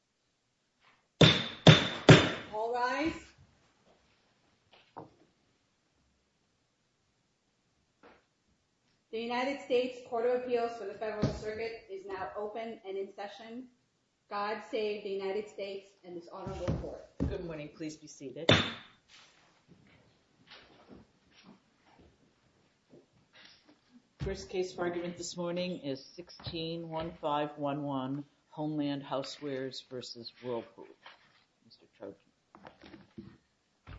v. Whirlpool Corporation, LLC, LLC, LLC, LLC, LLC, LLC, LLC, LLC, LLC, LLC, LLC, LLC, LLC, LLC, LLC, LLC, Land New York, LLC, Court of Appeals for the Federalist Circuit is now open and in session. God save the United States and this honorable court. Good morning. Please be seated. First case for argument this morning is 161511 Homeland Housewares versus Whirlpool. Mr. Trojan.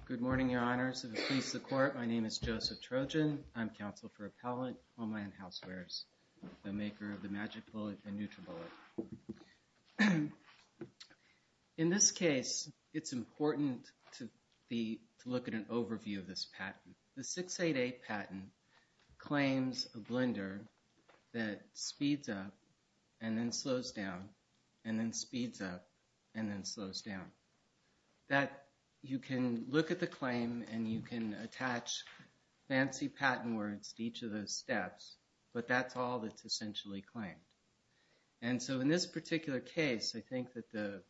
Good morning, Your Honors. If it pleases the court, my name is Joseph Trojan. I'm counsel for appellate Homeland Housewares, the maker of the magic bullet and neutral bullet. In this case, it's important to look at an overview of this patent. The 688 patent claims a blender that speeds up and then slows down and then speeds up and then slows down. That you can look at the claim and you can attach fancy patents to it. You can attach patent words to each of those steps, but that's all that's essentially claimed. And so in this particular case, I think that the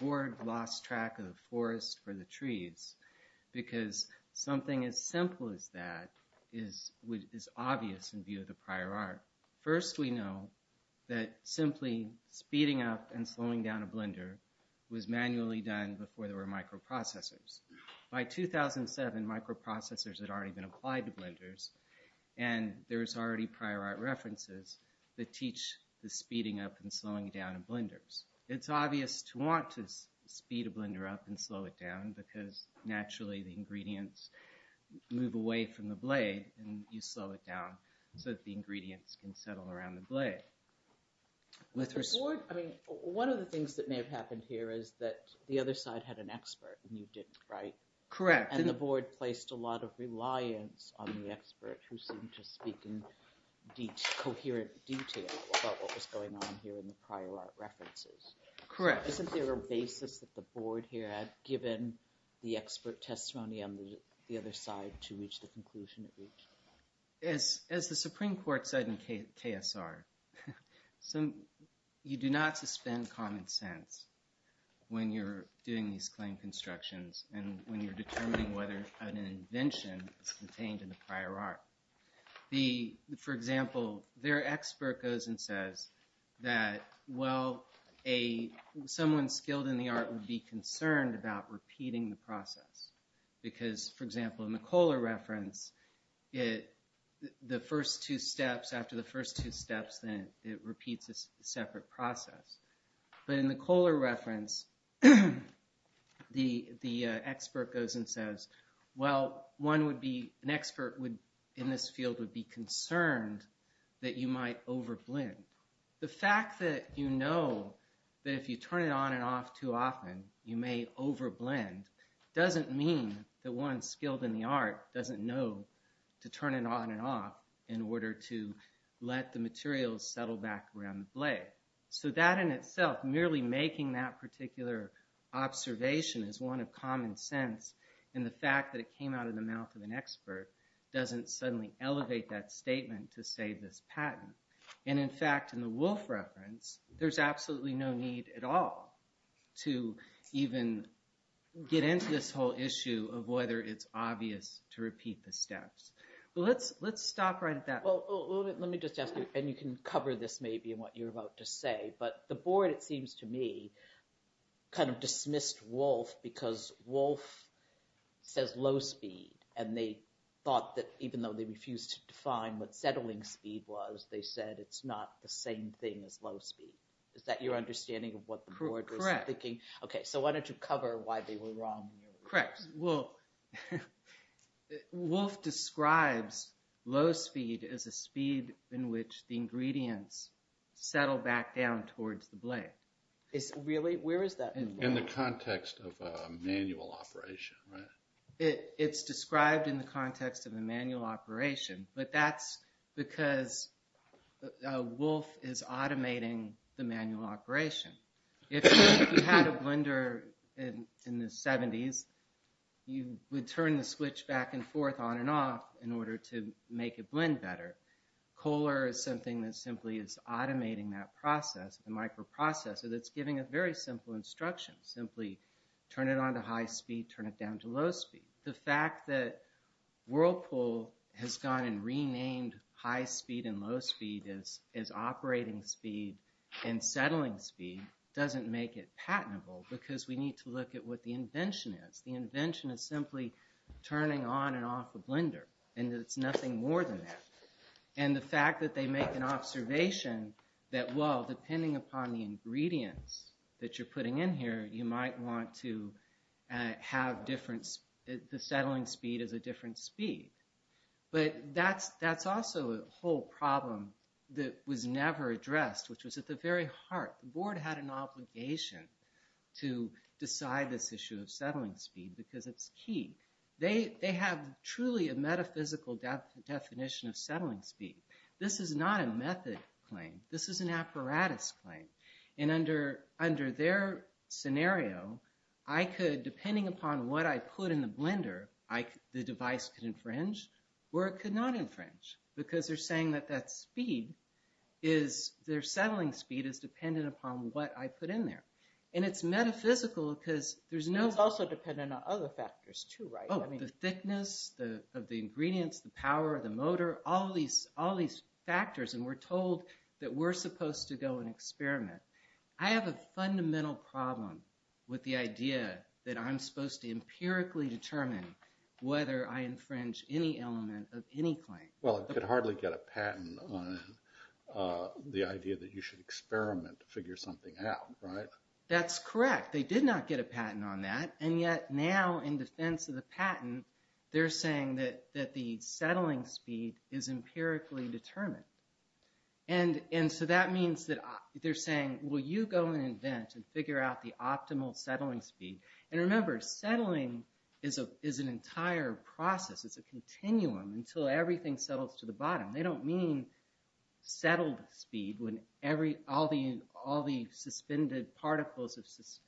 board lost track of the forest for the trees because something as simple as that is obvious in view of the prior art. First, we know that simply speeding up and slowing down a blender was manually done before there were microprocessors. By 2007 microprocessors had already been applied to blenders and there's already prior art references that teach the speeding up and slowing down of blenders. It's obvious to want to speed a blender up and slow it down because naturally the ingredients move away from the blade and you slow it down so that the ingredients can settle around the blade. I mean one of the things that may have happened here is that the other side had an expert and you didn't, right? Correct. And the board placed a lot of reliance on the expert who seemed to speak in coherent detail about what was going on here in the prior art references. Correct. Isn't there a basis that the board here had given the expert testimony on the other side to reach the conclusion? As the Supreme Court said in KSR, some you do not suspend common sense when you're doing these claims. Constructions and when you're determining whether an invention is contained in the prior art. The, for example, their expert goes and says that, well, a someone skilled in the art would be concerned about repeating the process because, for example, in the Kohler reference, it the first two steps after the first two steps, then it repeats a separate process. But in the Kohler reference, the, the expert goes and says, well, one would be an expert would in this field would be concerned that you might over blend. The fact that you know that if you turn it on and off too often, you may over blend doesn't mean that one skilled in the art doesn't know to turn it on and off in order to let the materials settle back around the blade. So that in itself, merely making that particular observation is one of common sense. And the fact that it came out of the mouth of an expert doesn't suddenly elevate that statement to say this patent. And in fact, in the Wolf reference, there's absolutely no need at all to even get into this whole issue of whether it's obvious to repeat the steps. But let's, let's stop right at that. Well, let me just ask you, and you can cover this maybe in what you're about to say, but the board, it seems to me kind of dismissed Wolf because Wolf says low speed. And they thought that even though they refused to define what settling speed was, they said, it's not the same thing as low speed. Is that your understanding of what the board was thinking? Okay. So why don't you cover why they were wrong? Correct. Well, Wolf describes low speed as a speed in which the ingredients settle back down towards the blade. Really? Where is that in the context of a manual operation, right? It's described in the context of a manual operation, but that's because Wolf is automating the manual operation. If you had a blender in the seventies, you would turn the switch back and forth on and off in order to make it blend better. Kohler is something that simply is automating that process, the microprocessor that's giving a very simple instruction. Simply turn it on to high speed, turn it down to low speed. The fact that Whirlpool has gone and renamed high speed and low speed as, as operating speed and settling speed doesn't make it patentable because we need to look at what the invention is. The invention is simply turning on and off the blender and it's nothing more than that. And the fact that they make an observation that, well, depending upon the ingredients that you're putting in here, you might want to have different, the settling speed is a different speed, but that's, that's also a whole problem that was never addressed, which was at the very heart. The board had an obligation to decide this issue of settling speed because it's key. They, they have truly a metaphysical definition of settling speed. This is not a method claim. This is an apparatus claim. And under, under their scenario, I could, depending upon what I put in the blender, I, the device could infringe or it could not infringe because they're saying that that speed is, their settling speed is dependent upon what I put in there. And it's metaphysical because there's no... It's also dependent on other factors too, right? Oh, the thickness of the ingredients, the power of the motor, all of these, all these factors. And we're told that we're supposed to go and experiment. I have a fundamental problem with the idea that I'm supposed to empirically determine whether I infringe any element of any claim. Well, it could hardly get a patent on the idea that you should experiment to figure something out, right? That's correct. They did not get a patent on that. And yet now in defense of the patent, they're saying that that the settling speed is empirically determined. And, and so that means that they're saying, will you go and invent and figure out the optimal settling speed? And remember, settling is a, is an entire process. It's a continuum until everything settles to the bottom. They don't mean settled speed when every, all the, all the suspended particles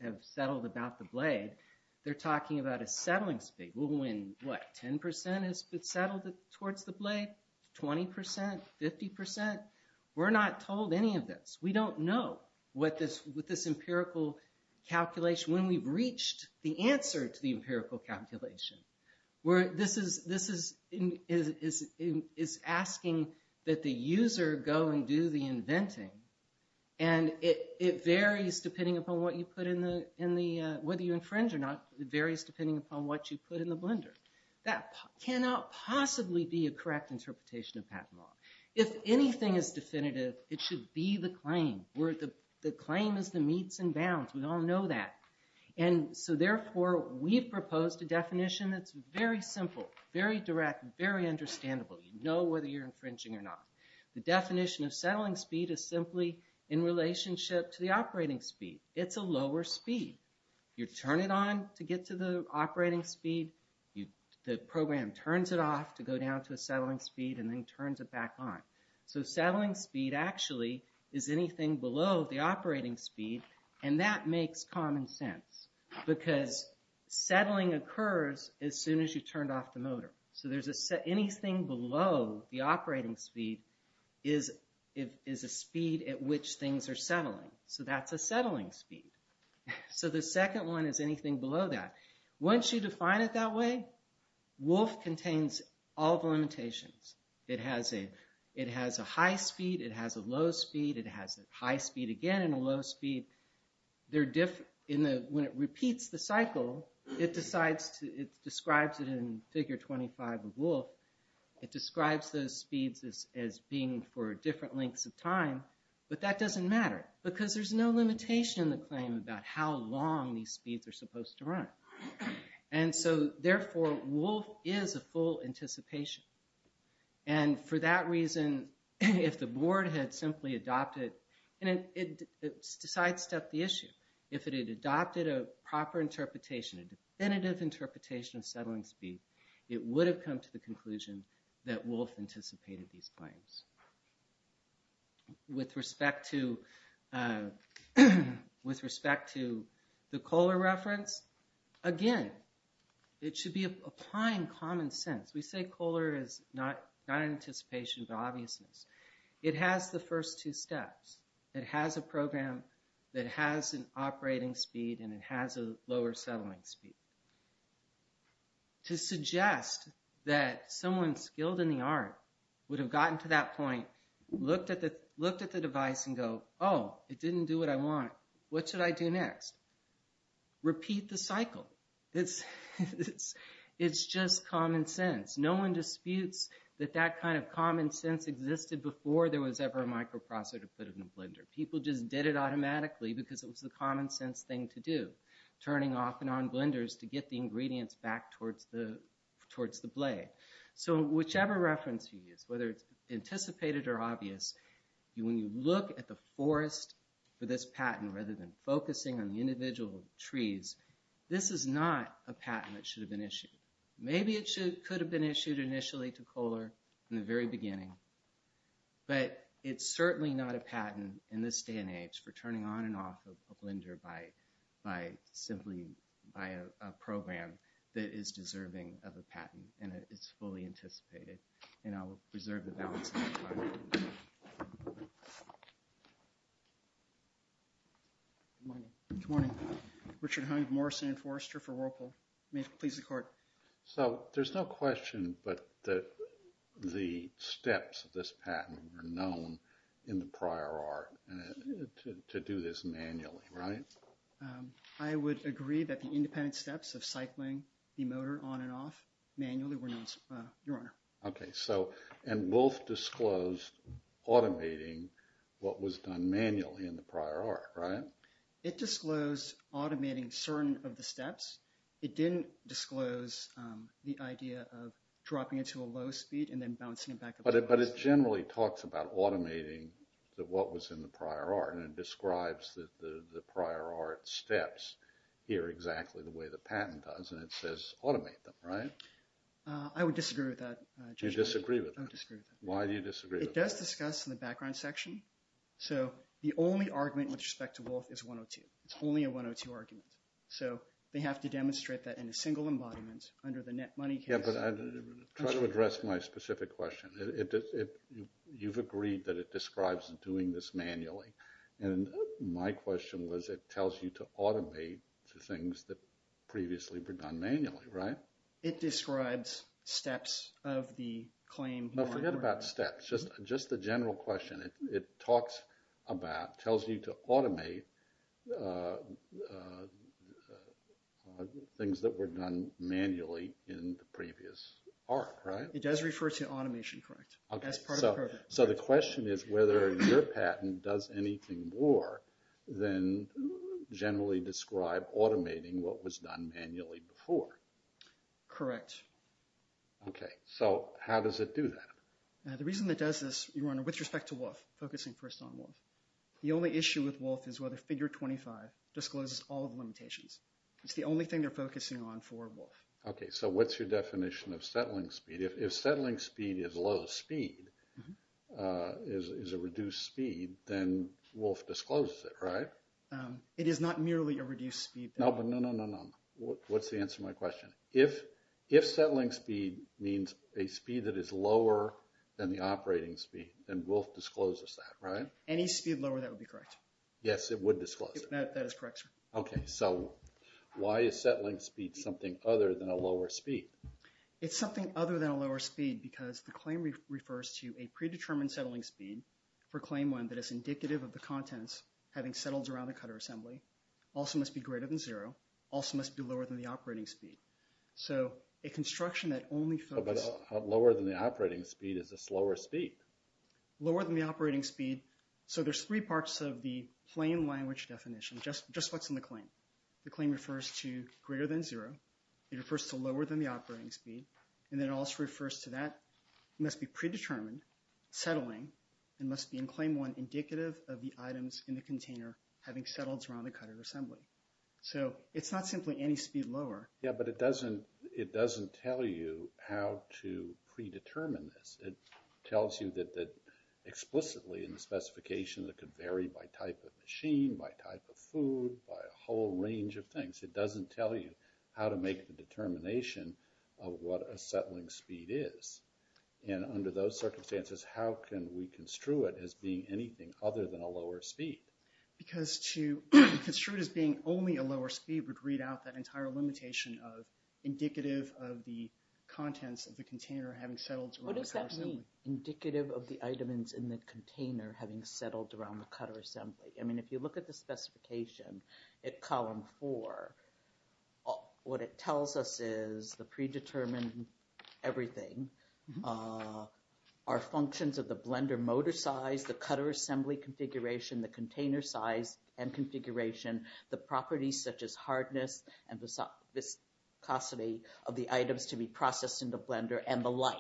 have settled about the blade. They're talking about a settling speed. Well, when what, 10% has been settled towards the blade, 20%, 50%. We're not told any of this. We don't know what this, what this empirical calculation, when we've reached the answer to the empirical calculation. Where this is, this is, is, is, is asking that the user go and do the inventing. And it varies depending upon what you put in the, in the, whether you infringe or not, it varies depending upon what you put in the blender. That cannot possibly be a correct interpretation of patent law. If anything is definitive, it should be the claim. Where the claim is the meets and bounds. We all know that. And so therefore we've proposed a definition that's very simple, very direct, very understandable. You know whether you're infringing or not. The definition of settling speed is simply in relationship to the operating speed. It's a lower speed. You turn it on to get to the operating speed. You, the program turns it off to go down to a settling speed and then turns it back on. So settling speed actually is anything below the operating speed. And that makes common sense because settling occurs as soon as you turned off the motor. So there's a set, anything below the operating speed is, is a speed at which things are settling. So that's a settling speed. So the second one is anything below that. Once you define it that way, Wolf contains all the limitations. It has a, it has a high speed, it has a low speed, it has a high speed again and a low speed. They're different in the, when it repeats the cycle, it decides to, it describes it in figure 25 of Wolf. It describes those speeds as being for different lengths of time. But that doesn't matter because there's no limitation in the claim about how long these speeds are supposed to run. And so therefore Wolf is a full anticipation. And for that reason, if the board had simply adopted and it decides to up the issue, if it had adopted a proper interpretation, a definitive interpretation of settling speed, it would have come to the conclusion that Wolf anticipated these claims. With respect to, with respect to the Kohler reference, again, it should be applying common sense. We say Kohler is not, not anticipation, but obviousness. It has the first two steps. It has a program that has an operating speed and it has a lower settling speed. To suggest that someone skilled in the art would have gotten to that point, looked at the, looked at the device and go, oh, it didn't do what I want. What should I do next? Repeat the cycle. It's, it's, it's just common sense. No one disputes that that kind of common sense existed before there was ever a microprocessor to put it in a blender. People just did it automatically because it was the common sense thing to do. Turning off and on blenders to get the ingredients back towards the, towards the blade. So whichever reference you use, whether it's anticipated or obvious, when you look at the forest for this patent, rather than focusing on the individual trees, this is not a patent that should have been issued. Maybe it should, could have been issued initially to Kohler in the very beginning, but it's certainly not a patent in this day and age for turning on and off of a blender by, by simply by a program that is deserving of a patent and it's fully anticipated. And I will preserve the balance of my time. Good morning. Richard Hunt, Morrison Forrester for Whirlpool. May it please the court. So there's no question but that the steps of this patent were known in the prior art to do this manually, right? I would agree that the independent steps of cycling the motor on and off manually were known, Your Honor. Okay. So, and Wolf disclosed automating what was done manually in the prior art, right? It disclosed automating certain of the steps. It didn't disclose the idea of dropping it to a low speed and then bouncing it back. But it, but it generally talks about automating the, what was in the prior art and it describes the, the prior art steps here exactly the way the patent does. And it says automate them, right? I would disagree with that. Do you disagree with that? I disagree with that. Why do you disagree with that? It does discuss in the background section. So the only argument with respect to Wolf is 102. It's only a 102 argument. So they have to demonstrate that in a single embodiment under the net money case. Yeah, but I try to address my specific question. It, it, it, you've agreed that it describes doing this manually. And my question was, it tells you to automate the things that previously were done manually, right? It describes steps of the claim. No, forget about steps. Just, just the general question. It talks about, tells you to automate things that were done manually in the previous art, right? It does refer to automation, correct, as part of the program. So the question is whether your patent does anything more than generally describe automating what was done manually before. Correct. Okay. So how does it do that? The reason that does this, Your Honor, with respect to Wolf, focusing first on Wolf, the only issue with Wolf is whether figure 25 discloses all of the limitations. It's the only thing they're focusing on for Wolf. Okay. So what's your definition of settling speed? If, if settling speed is low speed, is, is a reduced speed, then Wolf discloses it, right? It is not merely a reduced speed. No, but no, no, no, no. What's the answer to my question? If, if settling speed means a speed that is lower than the operating speed, then Wolf discloses that, right? Any speed lower, that would be correct. Yes, it would disclose it. That is correct, sir. Okay. So why is settling speed something other than a lower speed? It's something other than a lower speed because the claim refers to a predetermined settling speed for claim one that is indicative of the contents having settled around the cutter assembly, also must be greater than zero, also must be lower than the operating speed. So a construction that only focuses... But lower than the operating speed is a slower speed. Lower than the operating speed. So there's three parts of the plain language definition, just, just what's in the claim. The claim refers to greater than zero. It refers to lower than the operating speed. And then it also refers to that must be predetermined settling and must be in claim one indicative of the items in the container having settled around the cutter assembly. So it's not simply any speed lower. Yeah, but it doesn't, it doesn't tell you how to predetermine this. It tells you that, that explicitly in the specification that could vary by type of machine, by type of food, by a whole range of things. It doesn't tell you how to make the determination of what a settling speed is. And under those circumstances, how can we construe it as being anything other than a lower speed? Because to construe it as being only a lower speed would read out that entire limitation of indicative of the contents of the container having settled around the cutter assembly. What does that mean? Indicative of the items in the container having settled around the cutter assembly. I mean, if you look at the specification at column four, what it tells us is the predetermined everything are functions of the blender motor size, the cutter assembly configuration, the container size and configuration, the properties such as hardness and the viscosity of the items to be processed in the blender and the like,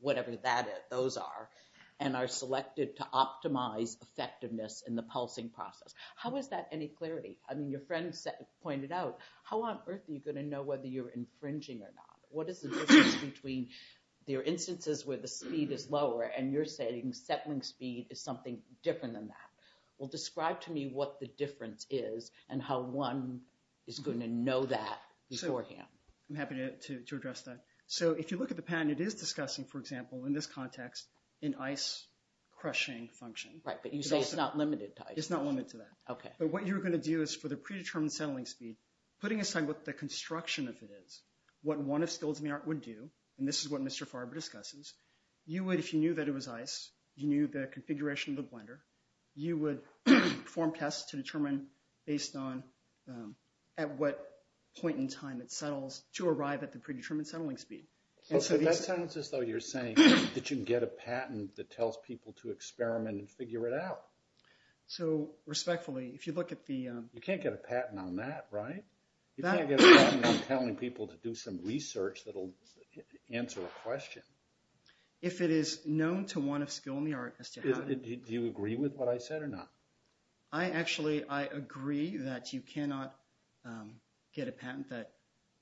whatever that is, those are, and are selected to optimize effectiveness in the pulsing process. How is that any clarity? I mean, your friend pointed out, how on earth are you going to know whether you're infringing or not? What is the difference between your instances where the speed is lower and you're saying settling speed is something different than that? Well, describe to me what the difference is and how one is going to know that beforehand. I'm happy to address that. So if you look at the pattern, it is discussing, for example, in this context, an ice crushing function. Right. But you say it's not limited to ice crushing. It's not limited to that. Okay. But what you're going to do is for the predetermined settling speed, putting aside what the construction of it is, what one of skills in the art would do, and this is what Mr. Farber discusses, you would, if you knew that it was ice, you knew the would form tests to determine based on at what point in time it settles to arrive at the predetermined settling speed. So that sounds as though you're saying that you can get a patent that tells people to experiment and figure it out. So respectfully, if you look at the... You can't get a patent on that, right? You can't get a patent on telling people to do some research that'll answer a question. If it is known to one of skill in the art as to how to... Do you agree with what I said or not? I actually, I agree that you cannot get a patent that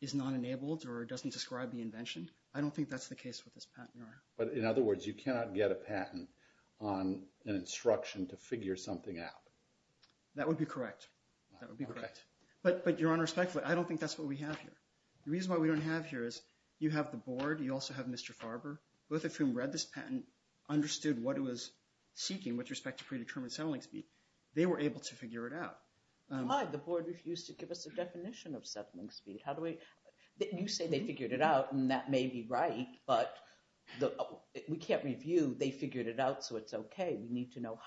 is not enabled or doesn't describe the invention. I don't think that's the case with this patent. But in other words, you cannot get a patent on an instruction to figure something out. That would be correct. That would be correct. But Your Honor, respectfully, I don't think that's what we have here. The reason why we don't have here is you have the board, you also have Mr. Farber, both of whom read this patent, understood what it was seeking with respect to predetermined settling speed. They were able to figure it out. The board refused to give us a definition of settling speed. How do we... You say they figured it out and that may be right, but we can't review they figured it out. So it's okay. We need to know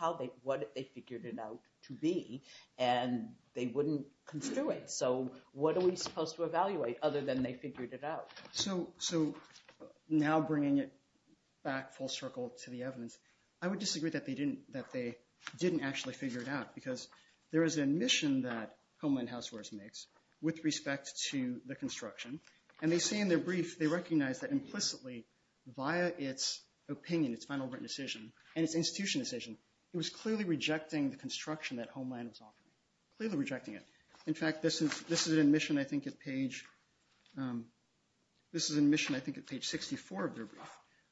what they figured it out to be and they wouldn't construe it. So what are we supposed to evaluate other than they figured it out? So now bringing it back full circle to the evidence, I would disagree that they didn't actually figure it out because there is an admission that Homeland Housewares makes with respect to the construction. And they say in their brief, they recognize that implicitly via its opinion, its final written decision and its institution decision, it was clearly rejecting the construction that Homeland was offering. Clearly rejecting it. In fact, this is an admission, I think, at page 64 of their brief,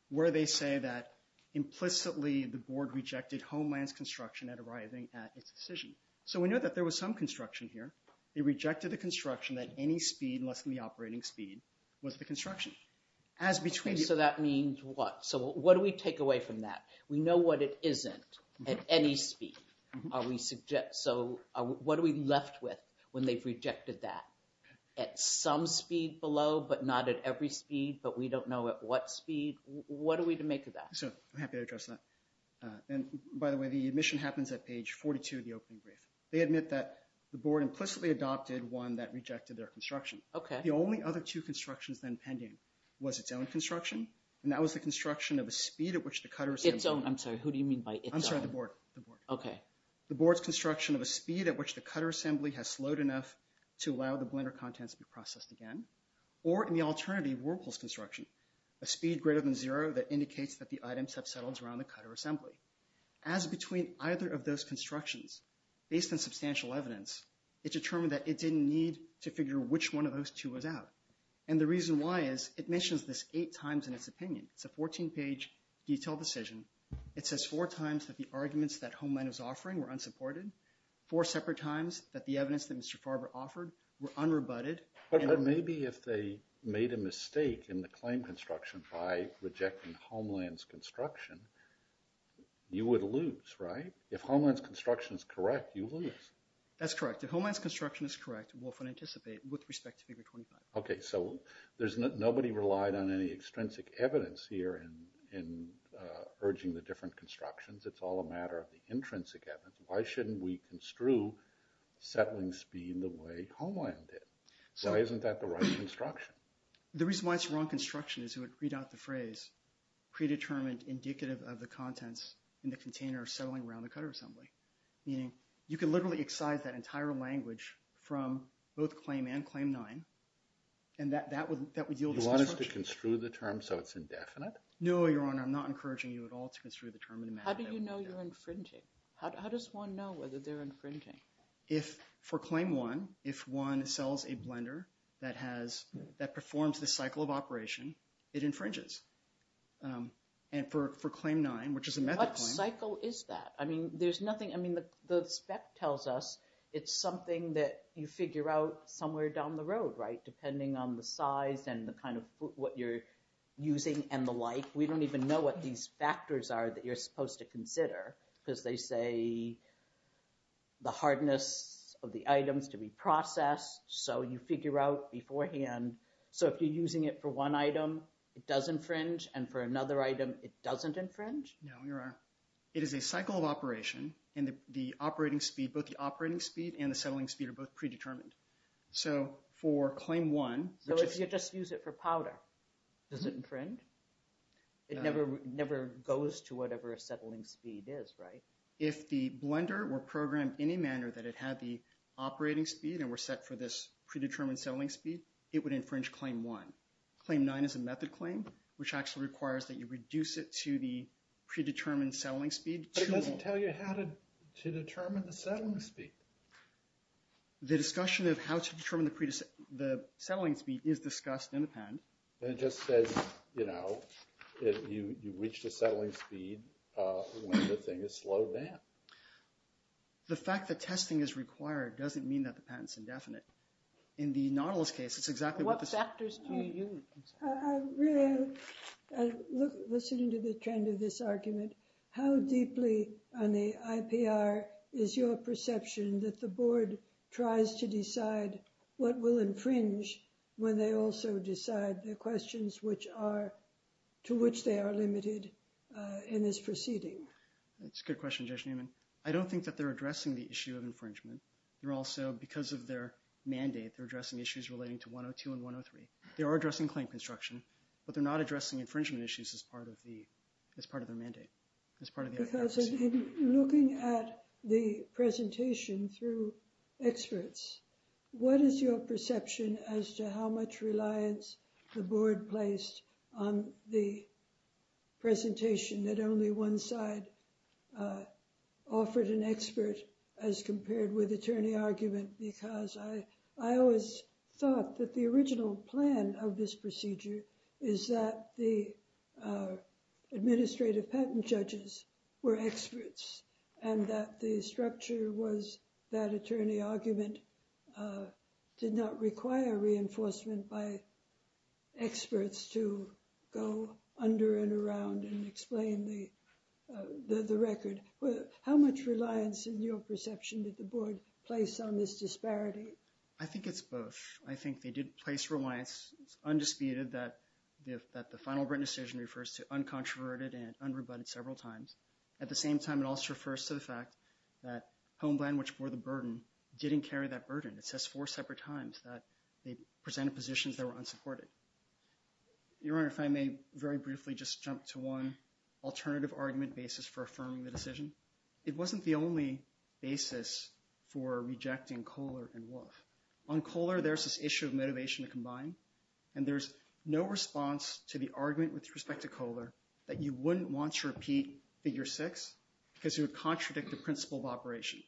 where they say that implicitly the board rejected Homeland's construction at arriving at its decision. So we know that there was some construction here. They rejected the construction at any speed less than the operating speed was the construction. So that means what? So what do we take away from that? We know what it isn't at any speed. Are we suggest, so what are we left with when they've rejected that? At some speed below, but not at every speed, but we don't know at what speed. What are we to make of that? So I'm happy to address that. And by the way, the admission happens at page 42 of the opening brief. They admit that the board implicitly adopted one that rejected their construction. Okay. The only other two constructions then pending was its own construction. And that was the construction of a speed at which the cutters. Its own, I'm sorry, who do you mean by its own? I'm sorry, the board. The board. Okay. The board's construction of a speed at which the cutter assembly has slowed enough to allow the blender contents to be processed again. Or in the alternative, Whirlpool's construction, a speed greater than zero that indicates that the items have settled around the cutter assembly. As between either of those constructions, based on substantial evidence, it determined that it didn't need to figure which one of those two was out. And the reason why is it mentions this eight times in its opinion. It's a 14 page detailed decision. It says four times that the arguments that Homeland is offering were unsupported. Four separate times that the evidence that Mr. Farber offered were unrebutted. But maybe if they made a mistake in the claim construction by rejecting Homeland's construction, you would lose, right? If Homeland's construction is correct, you lose. That's correct. If Homeland's construction is correct, Wolf would anticipate with respect to figure 25. Okay. So there's nobody relied on any extrinsic evidence here in urging the different constructions. It's all a matter of the intrinsic evidence. Why shouldn't we construe settling speed the way Homeland did? So why isn't that the right construction? The reason why it's the wrong construction is it would read out the phrase predetermined indicative of the contents in the container settling around the cutter assembly. Meaning you can literally excise that entire language from both claim and claim nine. And that would yield... Do you want us to construe the term so it's indefinite? No, Your Honor. I'm not encouraging you at all to construe the term. How do you know you're infringing? How does one know whether they're infringing? If for claim one, if one sells a blender that performs the cycle of operation, it infringes. And for claim nine, which is a method claim... What cycle is that? I mean, there's nothing. I mean, the spec tells us it's something that you figure out somewhere down the road, right? Depending on the size and the kind of what you're using and the like. We don't even know what these factors are that you're supposed to consider because they say the hardness of the items to be processed. So you figure out beforehand. So if you're using it for one item, it does infringe. And for another item, it doesn't infringe? No, Your Honor. It is a cycle of operation and the operating speed, both the operating speed and the settling speed are both predetermined. So for claim one... So if you just use it for powder, does it infringe? It never goes to whatever a settling speed is, right? If the blender were programmed any manner that it had the operating speed and were set for this predetermined settling speed, it would infringe claim one. Claim nine is a method claim, which actually requires that you reduce it to the predetermined settling speed. But it doesn't tell you how to determine the settling speed. The discussion of how to determine the settling speed is discussed in the patent. And it just says, you know, you reach the settling speed when the thing is slowed down. The fact that testing is required doesn't mean that the patent's indefinite. In the Nautilus case, it's exactly what the... What factors do you use? Really, listening to the trend of this argument, how deeply on the IPR is your perception that the board tries to decide what will infringe when they also decide the questions which are... To which they are limited in this proceeding? That's a good question, Judge Newman. I don't think that they're addressing the issue of infringement. They're also, because of their mandate, they're addressing issues relating to 102 and 103. They are addressing claim construction, but they're not addressing infringement issues as part of the... As part of their mandate, as part of the IPR proceeding. Because in looking at the presentation through experts, what is your perception as to how much reliance the board placed on the presentation that only one side offered an expert as compared with attorney argument? Because I always thought that the original plan of this procedure is that the administrative patent judges were experts and that the structure was that attorney argument did not require reinforcement by experts to go under and around and explain the record. How much reliance in your perception did the board place on this disparity? I think it's both. I think they did place reliance. It's undisputed that the final written decision refers to uncontroverted and unrebutted several times. At the same time, it also refers to the fact that Homeland, which bore the burden, didn't carry that burden. It says four separate times that they presented positions that were unsupported. Your Honor, if I may very briefly just jump to one alternative argument basis for affirming the decision. It wasn't the only basis for rejecting Kohler and Wolf. On Kohler, there's this issue of motivation to combine, and there's no response to the argument with respect to Kohler that you wouldn't want to repeat figure six because it would contradict the principle of operation.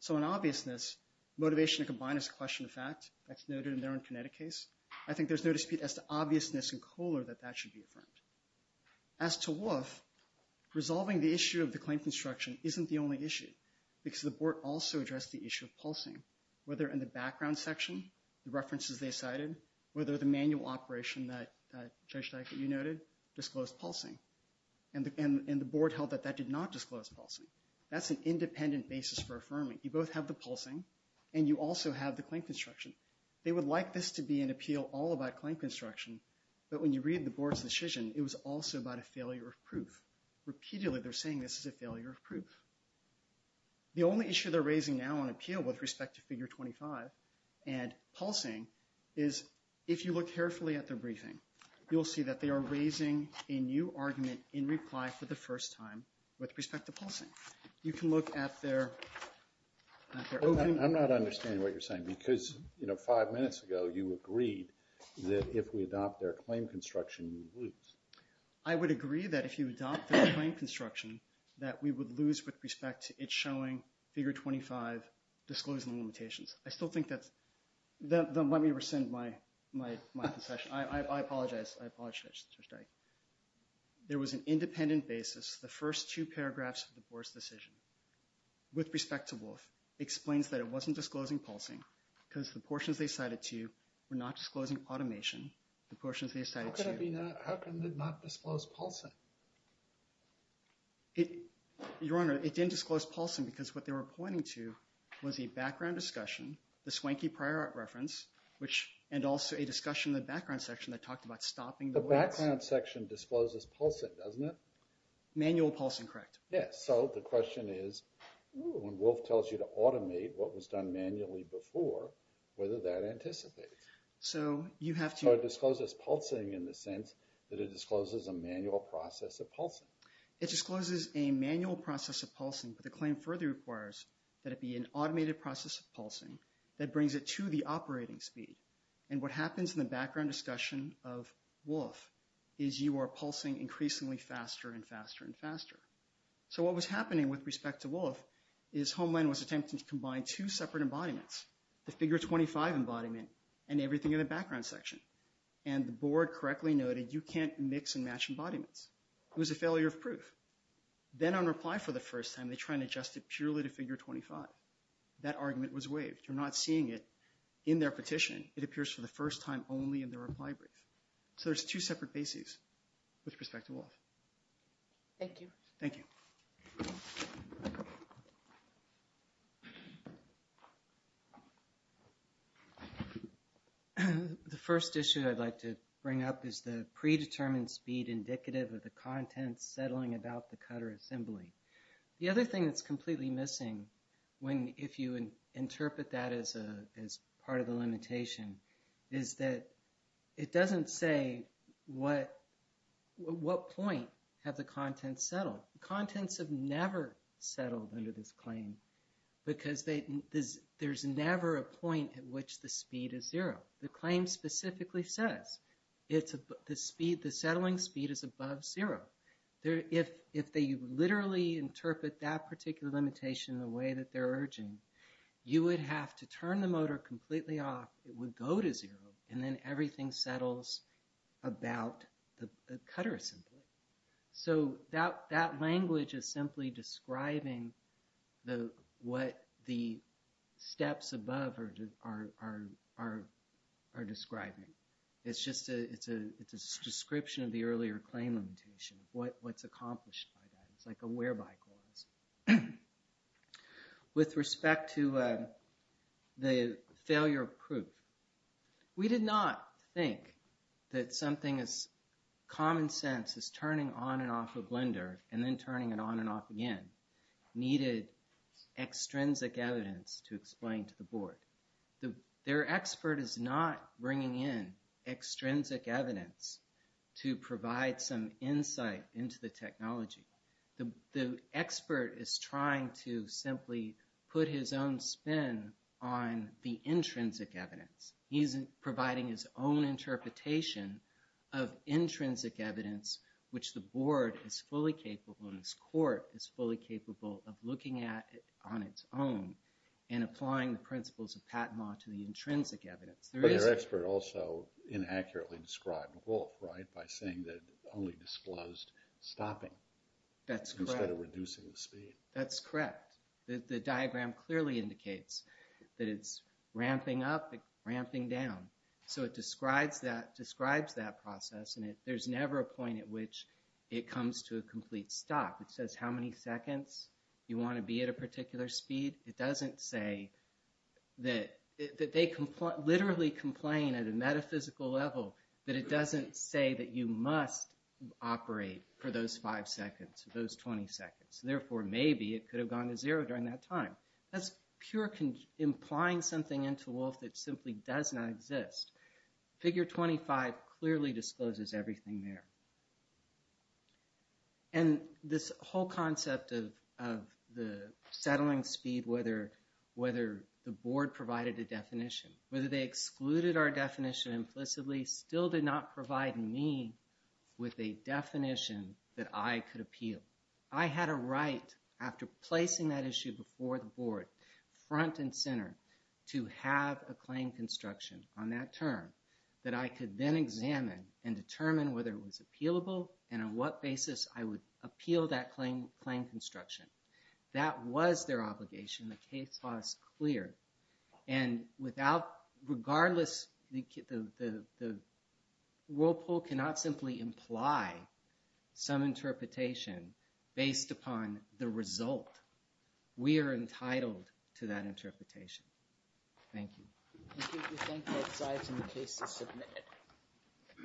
So in obviousness, motivation to combine is a question of fact. That's noted in their own Connecticut case. I think there's no dispute as to obviousness in Kohler that that should be affirmed. As to Wolf, resolving the issue of the claim construction isn't the only issue because the board also addressed the issue of pulsing, whether in the background section, the references they cited, whether the manual operation that Judge Dykert, you noted, disclosed pulsing. And the board held that that did not disclose pulsing. That's an independent basis for affirming. You both have the pulsing and you also have the claim construction. They would like this to be an appeal all about claim construction. But when you read the board's decision, it was also about a failure of proof. Repeatedly, they're saying this is a failure of proof. The only issue they're raising now on appeal with respect to figure 25 and pulsing is if you look carefully at their briefing, you'll see that they are raising a new argument in reply for the first time with respect to pulsing. You can look at their. I'm not understanding what you're saying because, you know, five minutes ago, you said that if you adopt their claim construction, you would lose. I would agree that if you adopt the claim construction, that we would lose with respect to it showing figure 25 disclosing limitations. I still think that's the let me rescind my my my concession. I apologize. I apologize, Judge Dykert. There was an independent basis, the first two paragraphs of the board's decision with respect to Wolf explains that it wasn't disclosing pulsing because the portions they cited to were not disclosing automation. The portions they cited to. How could it be not? How could it not disclose pulsing? Your Honor, it didn't disclose pulsing because what they were pointing to was a background discussion, the swanky prior art reference, which and also a discussion in the background section that talked about stopping. The background section discloses pulsing, doesn't it? Manual pulsing, correct. Yes. So the question is, when Wolf tells you to automate what was done manually before, whether that anticipates. So you have to disclose this pulsing in the sense that it discloses a manual process of pulsing. It discloses a manual process of pulsing, but the claim further requires that it be an automated process of pulsing that brings it to the operating speed. And what happens in the background discussion of Wolf is you are pulsing increasingly faster and faster and faster. So what was happening with respect to Wolf is Homeland was attempting to combine two and everything in the background section and the board correctly noted, you can't mix and match embodiments. It was a failure of proof. Then on reply for the first time, they try and adjust it purely to figure 25. That argument was waived. You're not seeing it in their petition. It appears for the first time only in the reply brief. So there's two separate bases with respect to Wolf. Thank you. Thank you. The first issue I'd like to bring up is the predetermined speed indicative of the content settling about the cutter assembly. The other thing that's completely missing when if you interpret that as a as part of the limitation is that it doesn't say what what point have the contents settled. Contents have never settled under this claim because there's never a point at which the speed is zero. The claim specifically says it's the speed. The settling speed is above zero. If if they literally interpret that particular limitation the way that they're urging, you would have to turn the motor completely off. It would go to zero and then everything settles about the cutter assembly. So that that language is simply describing the what the steps above are are are are describing. It's just a it's a it's a description of the earlier claim limitation. What what's accomplished by that is like a whereby clause. With respect to the failure of proof, we did not think that something as common sense as turning on and off a blender and then turning it on and off again needed extrinsic evidence to explain to the board. Their expert is not bringing in extrinsic evidence to provide some insight into the technology. The expert is trying to simply put his own spin on the intrinsic evidence. He's providing his own interpretation of intrinsic evidence, which the board is fully capable and this court is fully capable of looking at it on its own and applying the principles of Patent Law to the intrinsic evidence. But your expert also inaccurately described Wolf, right? By saying that only disclosed stopping. That's correct. Instead of reducing the speed. That's correct. The diagram clearly indicates that it's ramping up, ramping down. So it describes that describes that process. And there's never a point at which it comes to a complete stop. It says how many seconds you want to be at a particular speed. It doesn't say that that they can literally complain at a metaphysical level that it doesn't say that you must operate for those five seconds, those 20 seconds. Therefore, maybe it could have gone to zero during that time. That's pure implying something into Wolf that simply does not exist. Figure 25 clearly discloses everything there. And this whole concept of the settling speed, whether the board provided a definition, whether they excluded our definition implicitly, still did not provide me with a definition that I could appeal. I had a right after placing that issue before the board front and center to have a claim construction on that term that I could then examine and determine whether it was appealable and on what basis I would appeal that claim, claim construction. That was their obligation. The case was clear. And without regardless, the Whirlpool cannot simply imply some interpretation based upon the result. We are entitled to that interpretation. Thank you.